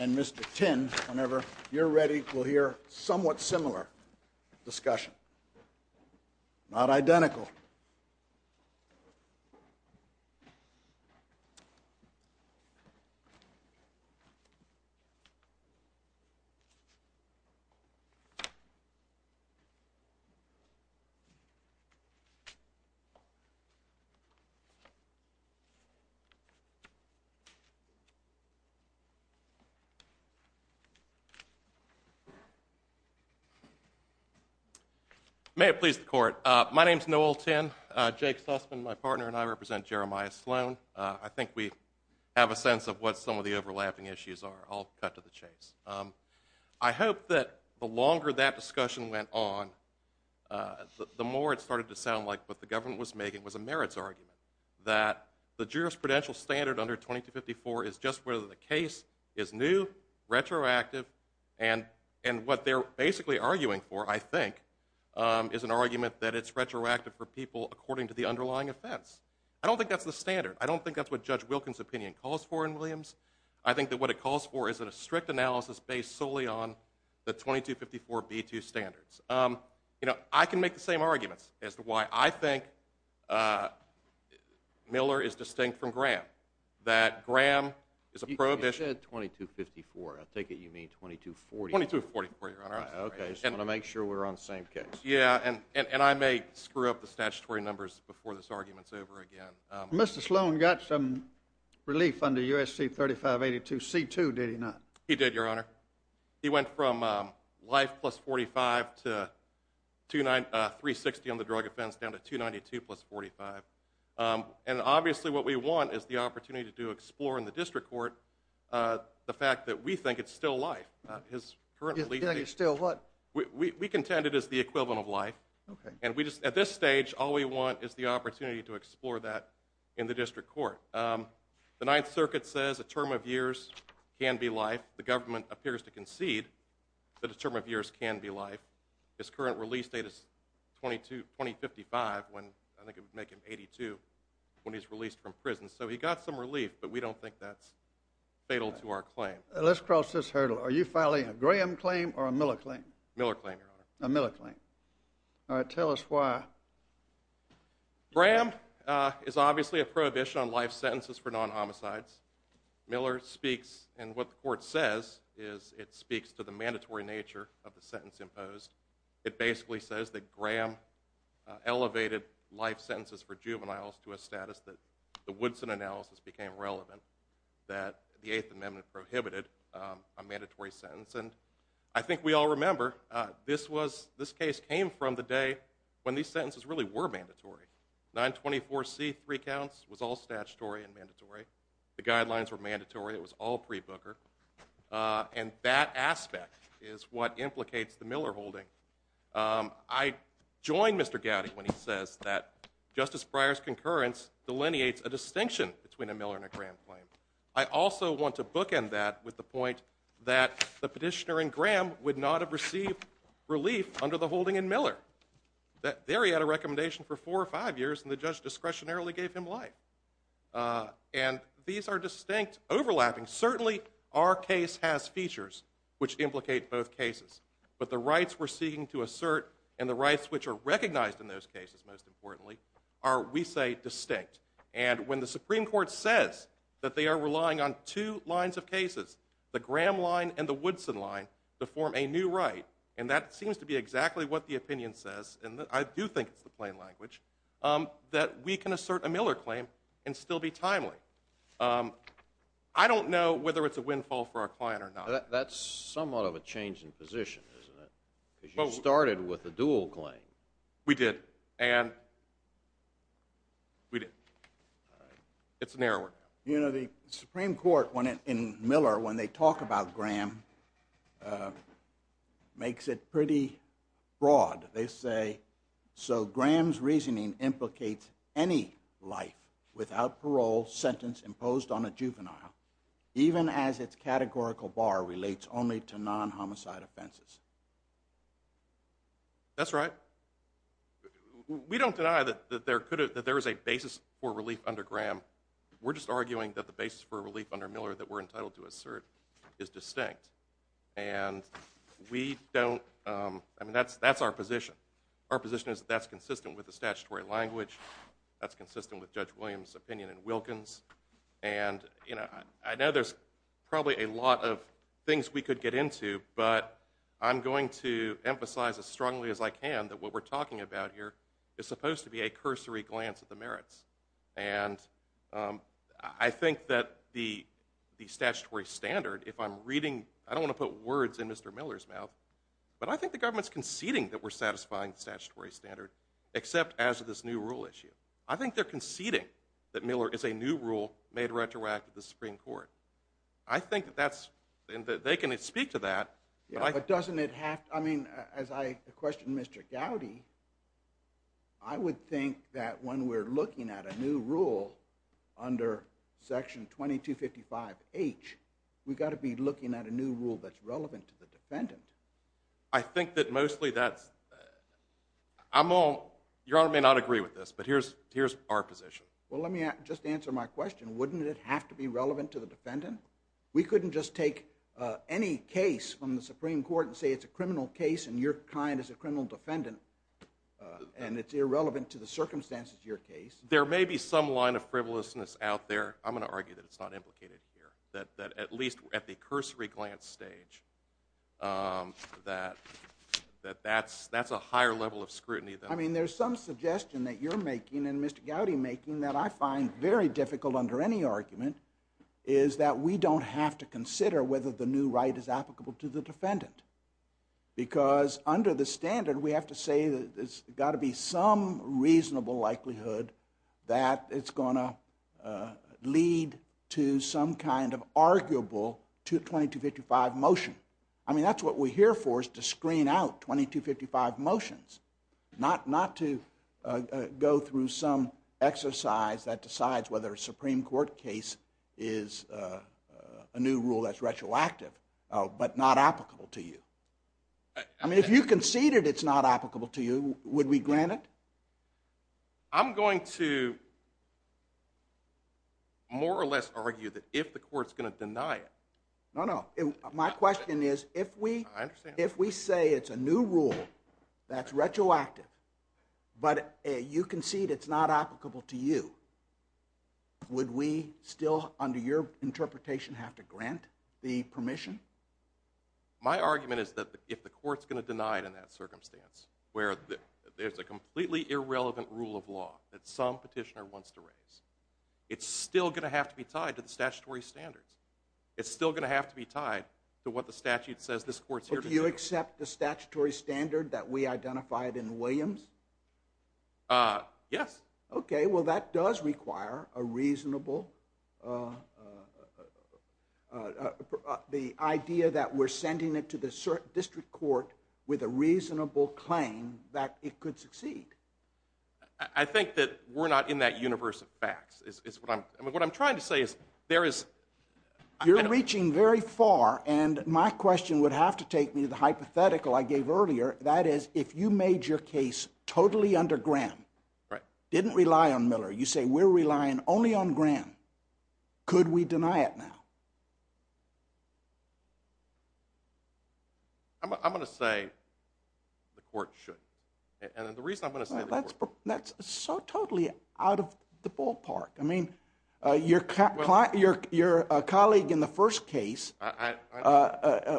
And Mr. Tin, whenever you're ready, we'll hear somewhat similar discussion, not identical. May it please the court, my name is Noel Tin, Jake Sussman, my partner and I represent Jeremiah Sloan. I think we have a sense of what some of the overlapping issues are, I'll cut to the chase. I hope that the longer that discussion went on, the more it started to sound like what the government was making was a merits argument, that the jurisprudential standard under 2254 is just whether the case is new, retroactive, and what they're basically arguing for, I think, is an argument that it's retroactive for people according to the underlying offense. I don't think that's the standard. I don't think that's what Judge Wilkins' opinion calls for in Williams. I think that what it calls for is a strict analysis based solely on the 2254b2 standards. I can make the same arguments as to why I think Miller is distinct from Graham, that Graham is a prohibition. You said 2254. I take it you mean 2240. 2244, Your Honor. I'm sorry. Okay, I just want to make sure we're on the same case. Yeah, and I may screw up the statutory numbers before this argument's over again. Mr. Sloan got some relief under USC 3582c2, did he not? He did, Your Honor. He went from life plus 45 to 360 on the drug offense down to 292 plus 45. And obviously what we want is the opportunity to explore in the district court the fact that we think it's still life. His current lead… You think it's still what? We contend it is the equivalent of life. And at this stage, all we want is the opportunity to explore that in the district court. The Ninth Circuit says a term of years can be life. The government appears to concede that a term of years can be life. His current release date is 2055, when I think it would make him 82, when he's released from prison. So he got some relief, but we don't think that's fatal to our claim. Let's cross this hurdle. Are you filing a Graham claim or a Miller claim? Miller claim, Your Honor. A Miller claim. All right, tell us why. Graham is obviously a prohibition on life sentences for non-homicides. Miller speaks, and what the court says is it speaks to the mandatory nature of the sentence imposed. It basically says that Graham elevated life sentences for juveniles to a status that the Woodson analysis became relevant, that the Eighth Amendment prohibited a mandatory sentence. And I think we all remember, this case came from the day when these sentences really were mandatory. 924C, three counts, was all statutory and mandatory. The guidelines were mandatory, it was all pre-booker. And that aspect is what implicates the Miller holding. I join Mr. Gowdy when he says that Justice Breyer's concurrence delineates a distinction between a Miller and a Graham claim. I also want to bookend that with the point that the petitioner in Graham would not have received relief under the holding in Miller. There, he had a recommendation for four or five years, and the judge discretionarily gave him life. And these are distinct, overlapping, certainly our case has features which implicate both cases. But the rights we're seeking to assert, and the rights which are recognized in those cases most importantly, are, we say, distinct. And when the Supreme Court says that they are relying on two lines of cases, the Graham line and the Woodson line, to form a new right, and that seems to be exactly what the opinion says, and I do think it's the plain language, that we can assert a Miller claim and still be timely. I don't know whether it's a windfall for our client or not. That's somewhat of a change in position, isn't it? Because you started with a dual claim. We did. And we did. It's narrower now. You know, the Supreme Court, in Miller, when they talk about Graham, makes it pretty broad. They say, so Graham's reasoning implicates any life without parole sentenced imposed on a juvenile, even as its categorical bar relates only to non-homicide offenses. That's right. We don't deny that there is a basis for relief under Graham. We're just arguing that the basis for relief under Miller that we're entitled to assert is distinct. And we don't, I mean, that's our position. Our position is that's consistent with the statutory language, that's consistent with Judge Williams' opinion in Wilkins, and I know there's probably a lot of things we could get into, but I'm going to emphasize as strongly as I can that what we're talking about here is supposed to be a cursory glance at the merits, and I think that the statutory standard, if I'm reading, I don't want to put words in Mr. Miller's mouth, but I think the government's conceding that we're satisfying the statutory standard, except as of this new rule issue. I think they're conceding that Miller is a new rule made retroactive to the Supreme Court. I think that that's, and they can speak to that, but I think- Yeah, but doesn't it have to, I mean, as I questioned Mr. Gowdy, I would think that when we're looking at a new rule under Section 2255H, we've got to be looking at a new rule that's relevant to the defendant. I think that mostly that's, I'm all, Your Honor may not agree with this, but here's our position. Well, let me just answer my question. Wouldn't it have to be relevant to the defendant? We couldn't just take any case from the Supreme Court and say it's a criminal case and your the circumstances of your case. There may be some line of frivolousness out there, I'm going to argue that it's not implicated here, that at least at the cursory glance stage, that that's a higher level of scrutiny than- I mean, there's some suggestion that you're making and Mr. Gowdy making that I find very difficult under any argument, is that we don't have to consider whether the new right is applicable to the defendant. Because under the standard, we have to say that there's got to be some reasonable likelihood that it's going to lead to some kind of arguable 2255 motion. I mean, that's what we're here for, is to screen out 2255 motions, not to go through some exercise that decides whether a Supreme Court case is a new rule that's retroactive, but not applicable to you. I mean, if you conceded it's not applicable to you, would we grant it? I'm going to more or less argue that if the court's going to deny it- No, no. My question is, if we say it's a new rule that's retroactive, but you concede it's not to grant the permission? My argument is that if the court's going to deny it in that circumstance, where there's a completely irrelevant rule of law that some petitioner wants to raise, it's still going to have to be tied to the statutory standards. It's still going to have to be tied to what the statute says this court's here to do. Do you accept the statutory standard that we identified in Williams? Yes. Okay. Well, that does require a reasonable... The idea that we're sending it to the district court with a reasonable claim that it could succeed. I think that we're not in that universe of facts, is what I'm... I mean, what I'm trying to say is there is- You're reaching very far, and my question would have to take me to the hypothetical I gave earlier. That is, if you made your case totally under Graham, didn't rely on Miller, you say, we're relying only on Graham, could we deny it now? I'm going to say the court should, and the reason I'm going to say the court- That's so totally out of the ballpark. I mean, your colleague in the first case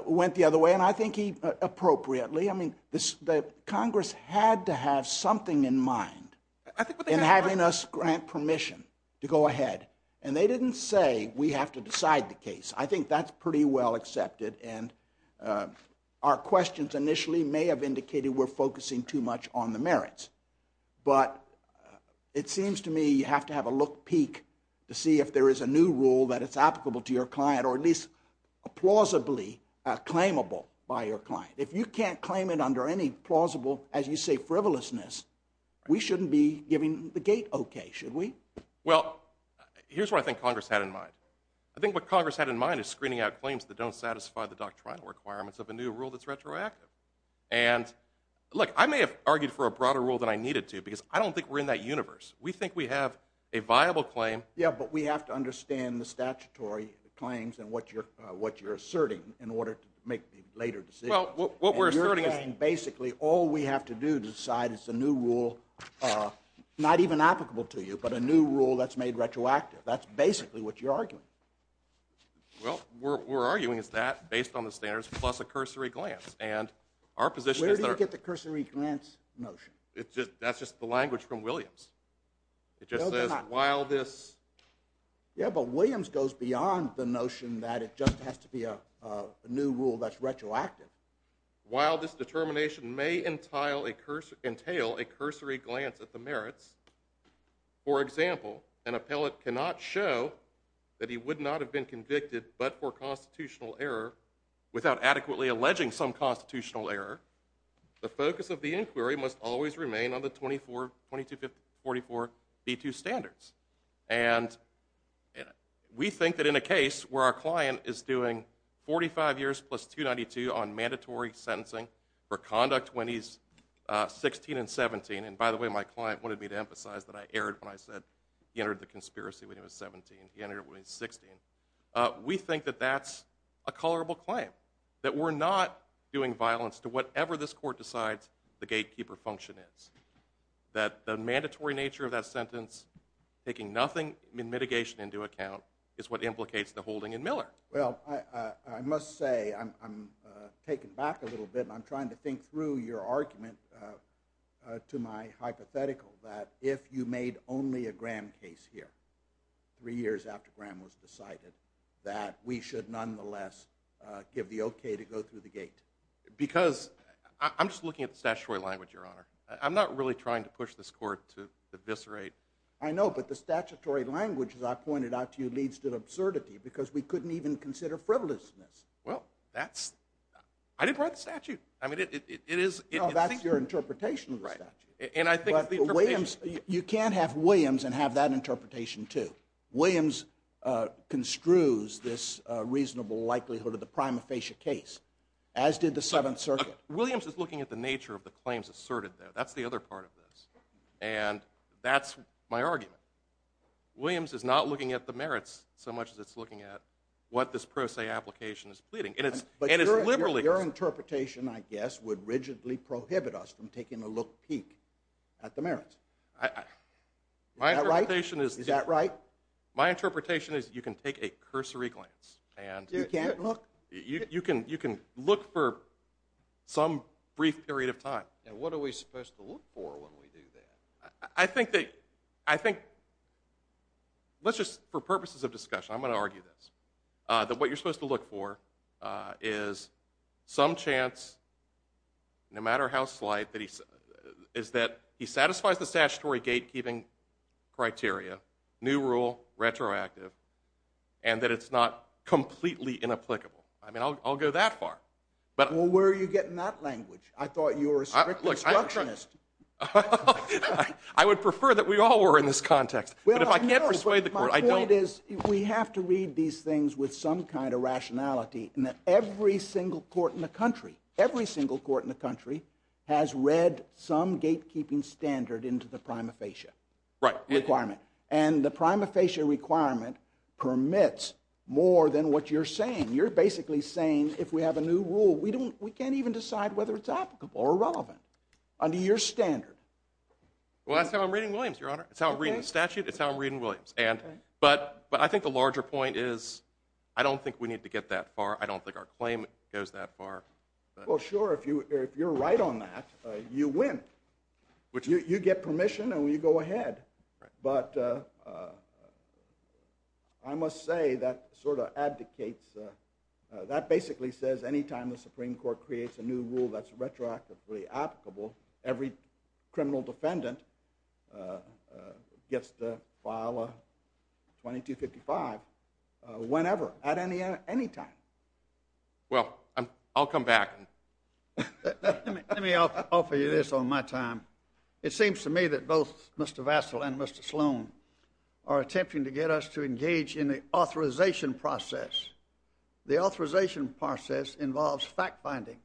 went the other way, and I think he, appropriately, I mean, Congress had to have something in mind in having us grant permission to go ahead, and they didn't say we have to decide the case. I think that's pretty well accepted, and our questions initially may have indicated we're focusing too much on the merits, but it seems to me you have to have a look-peek to see if there is a new rule that is applicable to your client, or at least plausibly claimable by your client. If you can't claim it under any plausible, as you say, frivolousness, we shouldn't be giving the gate okay, should we? Well, here's what I think Congress had in mind. I think what Congress had in mind is screening out claims that don't satisfy the doctrinal requirements of a new rule that's retroactive, and look, I may have argued for a broader rule than I needed to because I don't think we're in that universe. We think we have a viable claim- Yeah, but we have to understand the statutory claims and what you're asserting in order to make the later decisions. And you're saying basically all we have to do to decide it's a new rule, not even applicable to you, but a new rule that's made retroactive. That's basically what you're arguing. Well, we're arguing it's that based on the standards plus a cursory glance, and our position is that- Where do you get the cursory glance notion? That's just the language from Williams. It just says while this- Yeah, but Williams goes beyond the notion that it just has to be a new rule that's retroactive. While this determination may entail a cursory glance at the merits, for example, an appellate cannot show that he would not have been convicted but for constitutional error without adequately alleging some constitutional error. The focus of the inquiry must always remain on the 22544B2 standards. And we think that in a case where our client is doing 45 years plus 292 on mandatory sentencing for conduct when he's 16 and 17, and by the way, my client wanted me to emphasize that I erred when I said he entered the conspiracy when he was 17, he entered when he was 16. We think that that's a colorable claim, that we're not doing violence to whatever this court decides the gatekeeper function is. That the mandatory nature of that sentence, taking nothing in mitigation into account, is what implicates the holding in Miller. Well, I must say I'm taken back a little bit and I'm trying to think through your argument to my hypothetical that if you made only a Graham case here, three years after Graham was decided, that we should nonetheless give the okay to go through the gate. I'm not really trying to push this court to eviscerate. I know, but the statutory language, as I pointed out to you, leads to absurdity because we couldn't even consider frivolousness. Well, that's, I didn't write the statute. I mean, it is. No, that's your interpretation of the statute. You can't have Williams and have that interpretation too. Williams construes this reasonable likelihood of the prima facie case, as did the 7th Circuit. But Williams is looking at the nature of the claims asserted there. That's the other part of this. And that's my argument. Williams is not looking at the merits so much as it's looking at what this pro se application is pleading. And it's liberally- But your interpretation, I guess, would rigidly prohibit us from taking a look peak at the merits. Is that right? My interpretation is- Is that right? My interpretation is you can take a cursory glance and- You can't look? You can look for some brief period of time. And what are we supposed to look for when we do that? I think that, I think, let's just, for purposes of discussion, I'm going to argue this, that what you're supposed to look for is some chance, no matter how slight, is that he satisfies the statutory gatekeeping criteria, new rule, retroactive, and that it's not completely inapplicable. I mean, I'll go that far. But- Well, where are you getting that language? I thought you were a strict instructionist. I would prefer that we all were in this context. But if I can't persuade the court, I don't- My point is we have to read these things with some kind of rationality in that every single court in the country, every single court in the country has read some gatekeeping standard into the prima facie requirement. And the prima facie requirement permits more than what you're saying. You're basically saying if we have a new rule, we can't even decide whether it's applicable or irrelevant under your standard. Well, that's how I'm reading Williams, Your Honor. It's how I'm reading the statute. It's how I'm reading Williams. But I think the larger point is I don't think we need to get that far. I don't think our claim goes that far. Well, sure, if you're right on that, you win. You get permission and you go ahead. But I must say that sort of abdicates- that basically says any time the Supreme Court creates a new rule that's retroactively applicable, every criminal defendant gets to file a 2255 whenever at any time. Well, I'll come back. Let me offer you this on my time. It seems to me that both Mr. Vassil and Mr. Sloan are attempting to get us to engage in the authorization process. The authorization process involves fact-finding,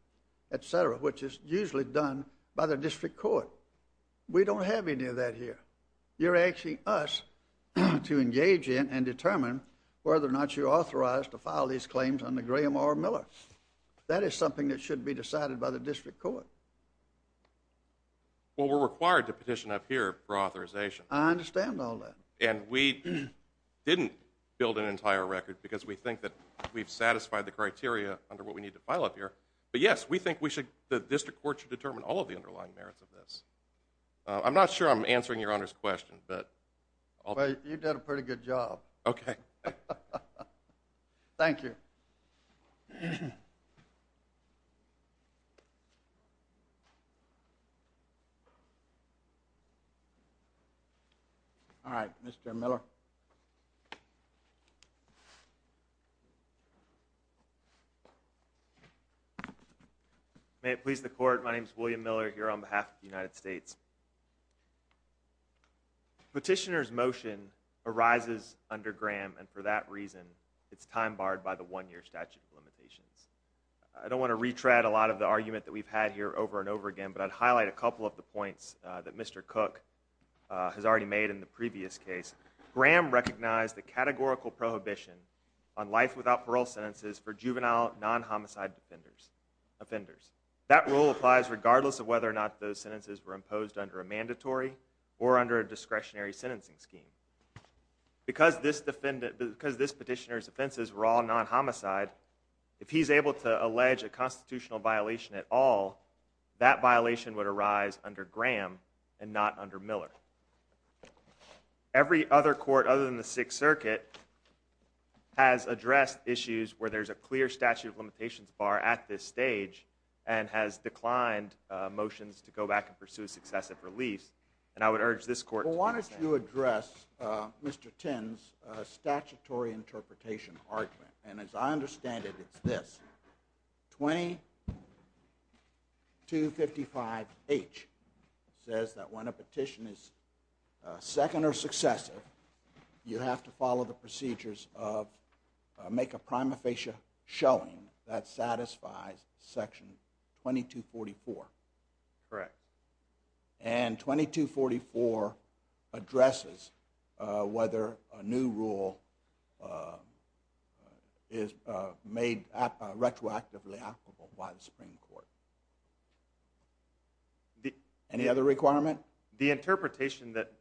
et cetera, which is usually done by the district court. We don't have any of that here. You're asking us to engage in and determine whether or not you're authorized to file these claims under Graham R. Miller. That is something that should be decided by the district court. Well, we're required to petition up here for authorization. I understand all that. And we didn't build an entire record because we think that we've satisfied the criteria under what we need to file up here. But yes, we think the district court should determine all of the underlying merits of this. I'm not sure I'm answering your Honor's question, but- Well, you've done a pretty good job. Okay. Thank you. All right. Mr. Miller. May it please the court, my name is William Miller here on behalf of the United States. Petitioner's motion arises under Graham and for that reason, it's time barred by the one year statute of limitations. I don't want to retread a lot of the argument that we've had here over and over again, but I'd highlight a couple of the points that Mr. Cook has already made in the previous case. Graham recognized the categorical prohibition on life without parole sentences for juvenile non-homicide offenders. That rule applies regardless of whether or not those sentences were imposed under a mandatory or under a discretionary sentencing scheme. Because this petitioner's offenses were all non-homicide, if he's able to allege a constitutional violation at all, that violation would arise under Graham and not under Miller. Every other court other than the Sixth Circuit has addressed issues where there's a clear statute of limitations bar at this stage and has declined motions to go back and pursue a successive release. And I would urge this court to do the same. Well, why don't you address Mr. Tinn's statutory interpretation argument. And as I understand it, it's this, 2255H says that when a petition is second or successive, you have to follow the procedures of make a prima facie showing that satisfies section 2244. Correct. And 2244 addresses whether a new rule is made retroactively applicable by the Supreme Court. Any other requirement? The interpretation that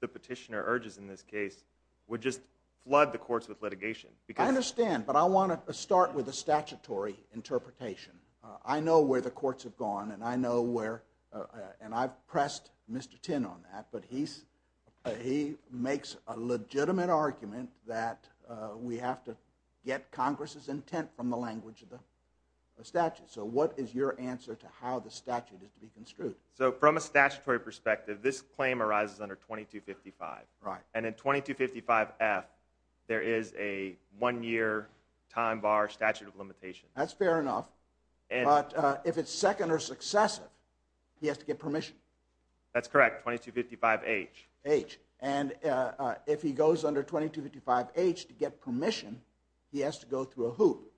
the petitioner urges in this case would just flood the courts with litigation. I understand, but I want to start with a statutory interpretation. I know where the courts have gone, and I've pressed Mr. Tinn on that, but he makes a legitimate argument that we have to get Congress's intent from the language of the statute. So what is your answer to how the statute is to be construed? So from a statutory perspective, this claim arises under 2255. And in 2255F, there is a one-year time bar statute of limitations. That's fair enough. But if it's second or successive, he has to get permission. That's correct, 2255H. And if he goes under 2255H to get permission, he has to go through a hoop.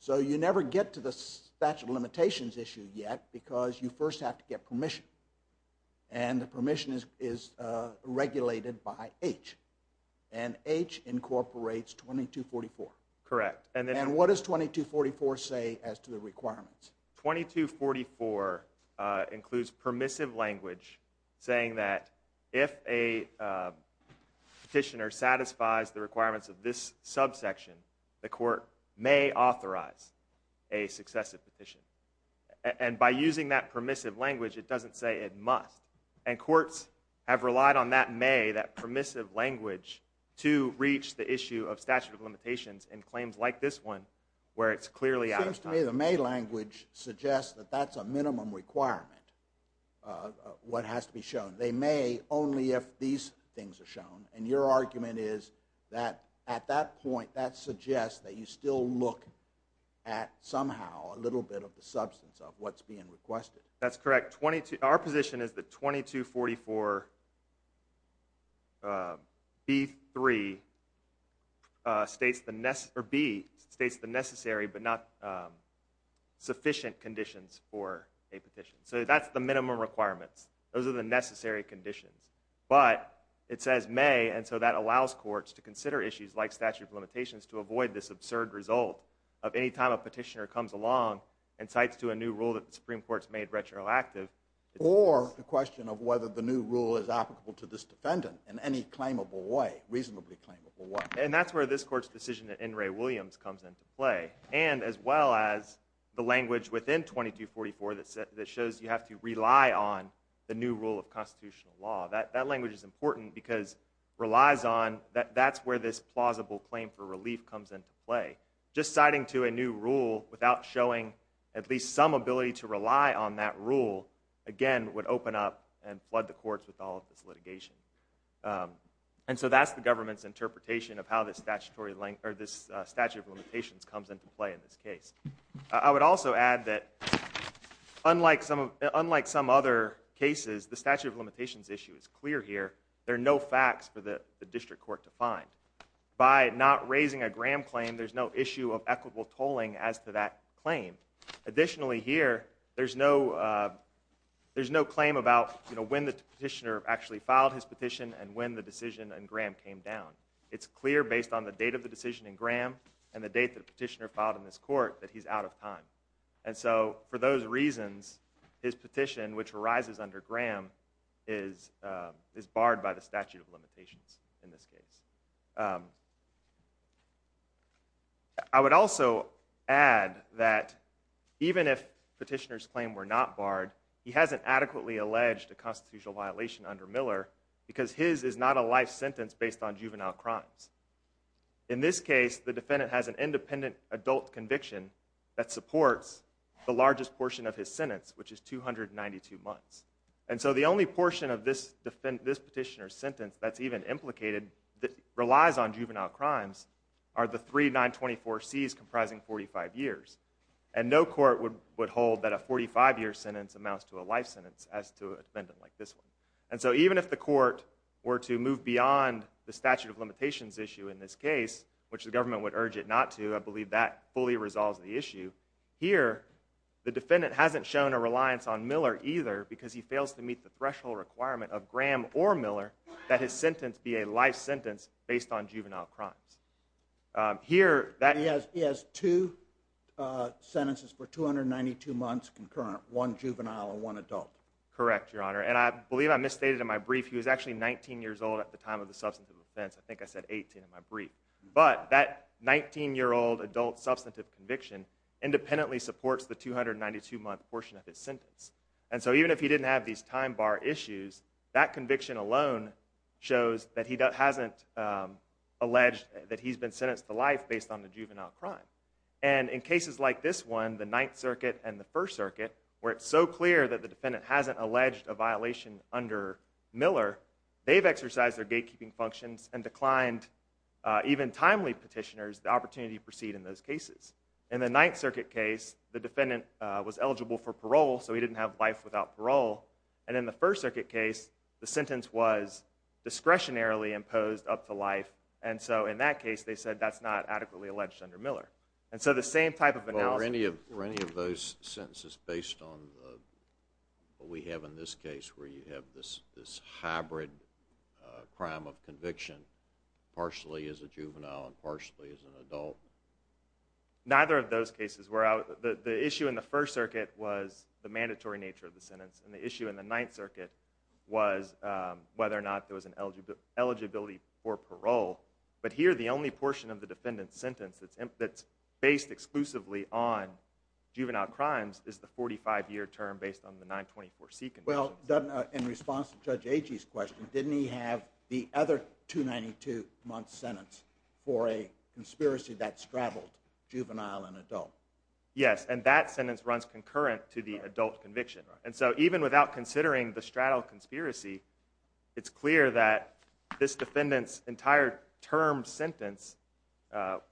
So you never get to the statute of limitations issue yet because you first have to get permission. And the permission is regulated by H. And H incorporates 2244. Correct. And what does 2244 say as to the requirements? 2244 includes permissive language saying that if a petitioner satisfies the requirements of this subsection, the court may authorize a successive petition. And by using that permissive language, it doesn't say it must. And courts have relied on that may, that permissive language, to reach the issue of statute of limitations in claims like this one where it's clearly out of time. It seems to me the may language suggests that that's a minimum requirement, what has to be shown. They may only if these things are shown. And your argument is that at that point, that suggests that you still look at somehow a little bit of the substance of what's being requested. That's correct. Our position is that 2244B3 states the necessary but not sufficient conditions for a petition. So that's the minimum requirements. Those are the necessary conditions. But it says may, and so that allows courts to consider issues like statute of limitations to avoid this absurd result of any time a petitioner comes along and cites to a new rule that the Supreme Court's made retroactive. Or the question of whether the new rule is applicable to this defendant in any claimable way, reasonably claimable way. And that's where this court's decision at N. Ray Williams comes into play. And as well as the language within 2244 that shows you have to rely on the new rule of constitutional law. That language is important because it relies on, that's where this plausible claim for relief comes into play. Just citing to a new rule without showing at least some ability to rely on that rule, again would open up and flood the courts with all of this litigation. And so that's the government's interpretation of how this statute of limitations comes into play in this case. I would also add that unlike some other cases, the statute of limitations issue is clear here. There are no facts for the district court to find. By not raising a Graham claim, there's no issue of equitable tolling as to that claim. Additionally here, there's no claim about when the petitioner actually filed his petition and when the decision in Graham came down. It's clear based on the date of the decision in Graham and the date the petitioner filed in this court that he's out of time. And so for those reasons, his petition, which arises under Graham, is barred by the statute of limitations in this case. I would also add that even if petitioner's claim were not barred, he hasn't adequately alleged a constitutional violation under Miller because his is not a life sentence based on juvenile crimes. In this case, the defendant has an independent adult conviction that supports the largest portion of his sentence, which is 292 months. And so the only portion of this petitioner's sentence that's even implicated, that relies on juvenile crimes, are the three 924Cs comprising 45 years. And no court would hold that a 45-year sentence amounts to a life sentence as to a defendant like this one. And so even if the court were to move beyond the statute of limitations issue in this case, which the government would urge it not to, I believe that fully resolves the issue, here the defendant hasn't shown a reliance on Miller either because he fails to meet the threshold requirement of Graham or Miller that his sentence be a life sentence based on juvenile crimes. Here that- He has two sentences for 292 months concurrent, one juvenile and one adult. Correct, Your Honor. And I believe I misstated in my brief, he was actually 19 years old at the time of the substantive offense. I think I said 18 in my brief. But that 19-year-old adult substantive conviction independently supports the 292-month portion of his sentence. And so even if he didn't have these time bar issues, that conviction alone shows that he hasn't alleged that he's been sentenced to life based on the juvenile crime. And in cases like this one, the Ninth Circuit and the First Circuit, where it's so clear that the defendant hasn't alleged a violation under Miller, they've exercised their gatekeeping functions and declined, even timely petitioners, the opportunity to proceed in those cases. In the Ninth Circuit case, the defendant was eligible for parole, so he didn't have life without parole. And in the First Circuit case, the sentence was discretionarily imposed up to life. And so in that case, they said that's not adequately alleged under Miller. And so the same type of analysis— Were any of those sentences based on what we have in this case, where you have this hybrid crime of conviction, partially as a juvenile and partially as an adult? Neither of those cases were. The issue in the First Circuit was the mandatory nature of the sentence, and the issue in the Ninth Circuit was whether or not there was an eligibility for parole. But here, the only portion of the defendant's sentence that's based exclusively on juvenile crimes is the 45-year term based on the 924C conviction. Well, in response to Judge Agee's question, didn't he have the other 292-month sentence for a conspiracy that straddled juvenile and adult? Yes, and that sentence runs concurrent to the adult conviction. And so even without considering the straddle conspiracy, it's clear that this defendant's entire term sentence,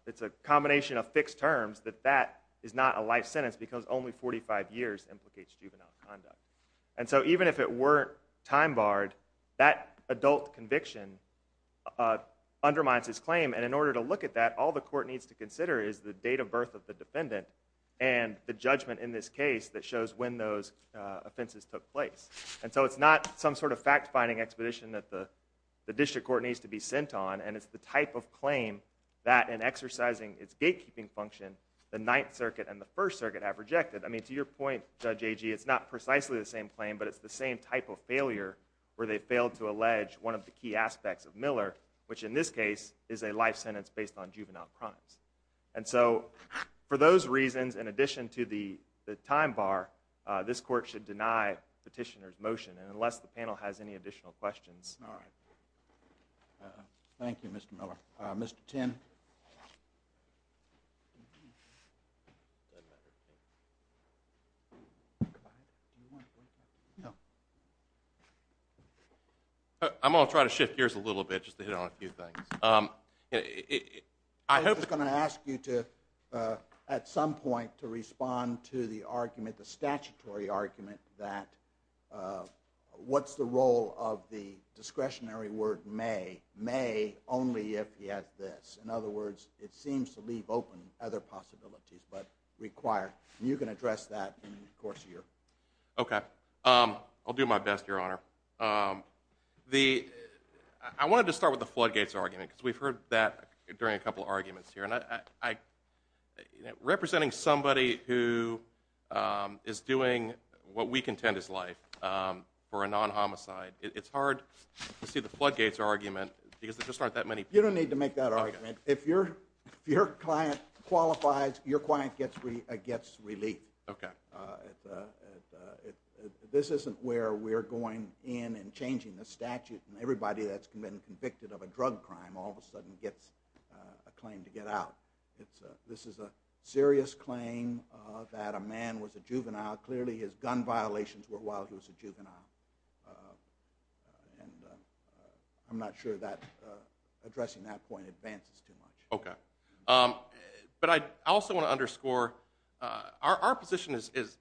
it's a combination of fixed terms, that that is not a life sentence because only 45 years implicates juvenile conduct. And so even if it weren't time-barred, that adult conviction undermines his claim, and in order to look at that, all the court needs to consider is the date of birth of the defendant and the judgment in this case that shows when those offenses took place. And so it's not some sort of fact-finding expedition that the district court needs to be sent on, and it's the type of claim that, in exercising its gatekeeping function, the Ninth Circuit and the First Circuit have rejected. I mean, to your point, Judge Agee, it's not precisely the same claim, but it's the same type of failure where they failed to allege one of the key aspects of Miller, which in this case is a life sentence based on juvenile crimes. And so for those reasons, in addition to the time-bar, this court should deny petitioner's motion. And unless the panel has any additional questions. Thank you, Mr. Miller. Mr. Tinn. I'm going to try to shift gears a little bit just to hit on a few things. I hope... I was just going to ask you to, at some point, to respond to the argument, the statutory argument, that what's the role of the discretionary word may, may only if he has this. In other words, it seems to leave open other possibilities, but require. You can address that in the course of your... Okay. I'll do my best, Your Honor. I wanted to start with the floodgates argument, because we've heard that during a couple of arguments here. And representing somebody who is doing what we contend is life for a non-homicide, it's hard to see the floodgates argument, because there just aren't that many people... You don't need to make that argument. If your client qualifies, your client gets relief. This isn't where we're going in and changing the statute, and everybody that's been convicted of a drug crime all of a sudden gets a claim to get out. This is a serious claim that a man was a juvenile. Clearly his gun violations were while he was a juvenile, and I'm not sure that addressing that point advances too much. Okay. But I also want to underscore, our position is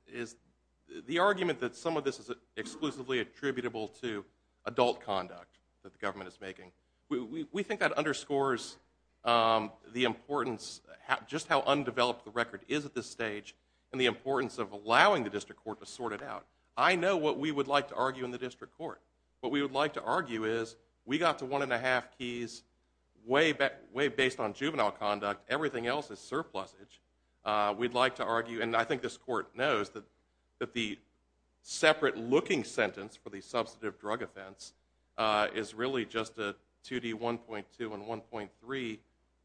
the argument that some of this is exclusively attributable to adult conduct that the government is making. We think that underscores the importance, just how undeveloped the record is at this stage, and the importance of allowing the district court to sort it out. I know what we would like to argue in the district court. What we would like to argue is, we got to one and a half keys way based on juvenile conduct, everything else is surplusage. We'd like to argue, and I think this court knows that the separate looking sentence for the substantive drug offense is really just a 2D1.2 and 1.3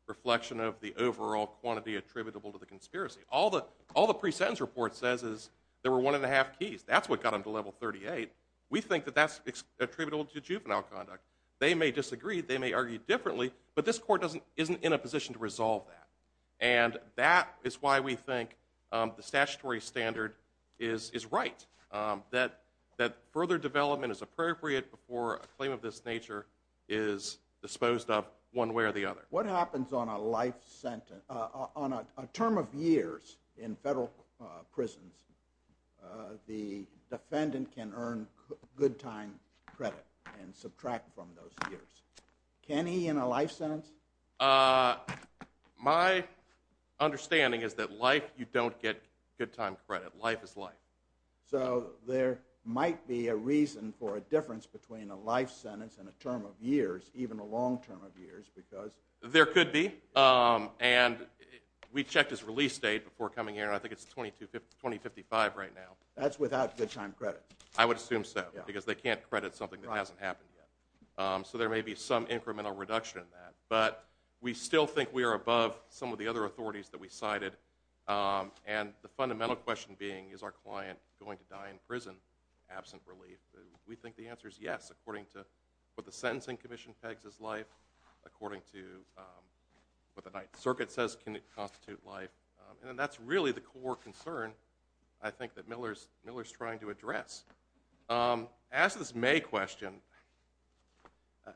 reflection of the overall quantity attributable to the conspiracy. All the pre-sentence report says is there were one and a half keys. That's what got them to level 38. We think that that's attributable to juvenile conduct. They may disagree, they may argue differently, but this court isn't in a position to resolve that. That is why we think the statutory standard is right, that further development is appropriate before a claim of this nature is disposed of one way or the other. What happens on a life sentence, on a term of years in federal prisons, the defendant can earn good time credit and subtract from those years. Can he in a life sentence? My understanding is that life, you don't get good time credit. Life is life. So there might be a reason for a difference between a life sentence and a term of years, even a long term of years. There could be. We checked his release date before coming here, I think it's 2055 right now. That's without good time credit. I would assume so, because they can't credit something that hasn't happened yet. So there may be some incremental reduction in that. But we still think we are above some of the other authorities that we cited. And the fundamental question being, is our client going to die in prison absent relief? We think the answer is yes, according to what the Sentencing Commission pegs as life, according to what the Ninth Circuit says can constitute life. And that's really the core concern I think that Miller's trying to address. As to this May question,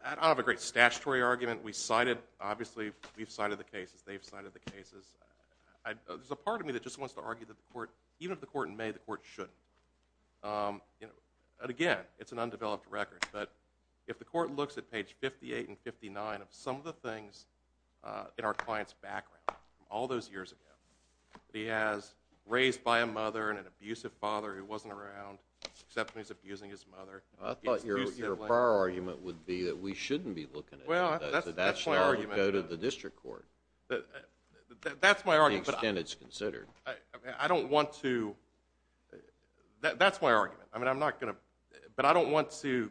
I don't have a great statutory argument. We cited, obviously we've cited the cases, they've cited the cases. There's a part of me that just wants to argue that the court, even if the court in May, the court shouldn't. And again, it's an undeveloped record. But if the court looks at page 58 and 59 of some of the things in our client's background from all those years ago, that he has raised by a mother and an abusive father who wasn't around, except when he's abusing his mother. I thought your prior argument would be that we shouldn't be looking at it. Well, that's my argument. That should go to the district court. That's my argument. The extent it's considered. I don't want to, that's my argument. I mean, I'm not gonna, but I don't want to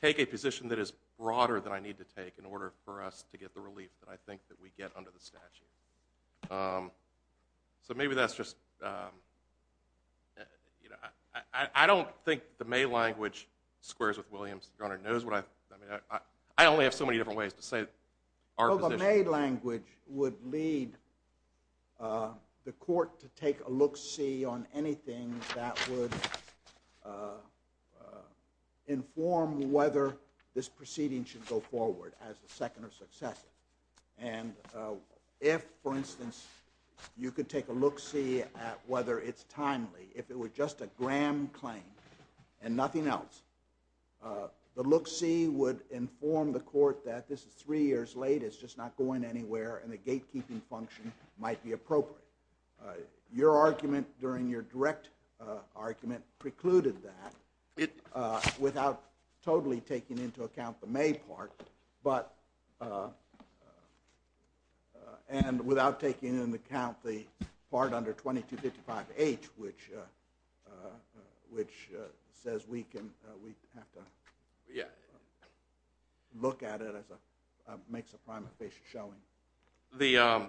take a position that is broader than I need to take in order for us to get the relief that I think that we get under the statute. So maybe that's just, I don't think the May language squares with Williams. Your Honor knows what I, I mean, I only have so many different ways to say our position. Well, the May language would lead the court to take a look-see on anything that would inform whether this proceeding should go forward as a second or successive. And if, for instance, you could take a look-see at whether it's timely. If it were just a Graham claim, and nothing else, the look-see would inform the court that this is three years late, it's just not going anywhere, and the gatekeeping function might be appropriate. Your argument during your direct argument precluded that. It. Without totally taking into account the May part. But, and without taking into account the part under 2255H, which, which says we can, we have to. Yeah. Look at it as a, makes a primary basis showing. The,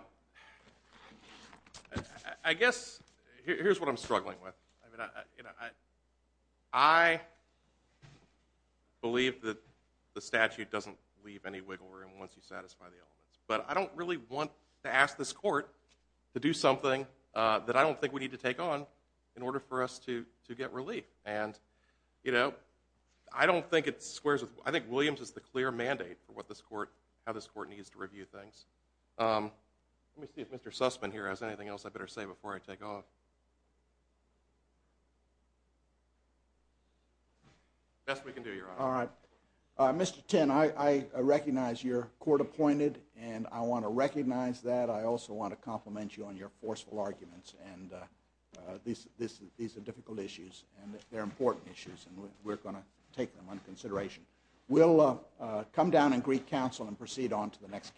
I guess, here's what I'm struggling with. I mean, I, you know, I, I believe that the statute doesn't leave any wiggle room once you satisfy the elements. But I don't really want to ask this court to do something that I don't think we need to take on in order for us to, to get relief. And, you know, I don't think it squares with, I think Williams is the clear mandate for what this court, how this court needs to review things. Let me see if Mr. Sussman here has anything else I better say before I take off. Best we can do, Your Honor. All right. Mr. Tinn, I, I recognize you're court appointed, and I want to recognize that. I also want to compliment you on your forceful arguments, and these, this, these are difficult issues, and they're important issues, and we're going to take them under consideration. We'll come down and greet counsel and proceed on to the next case.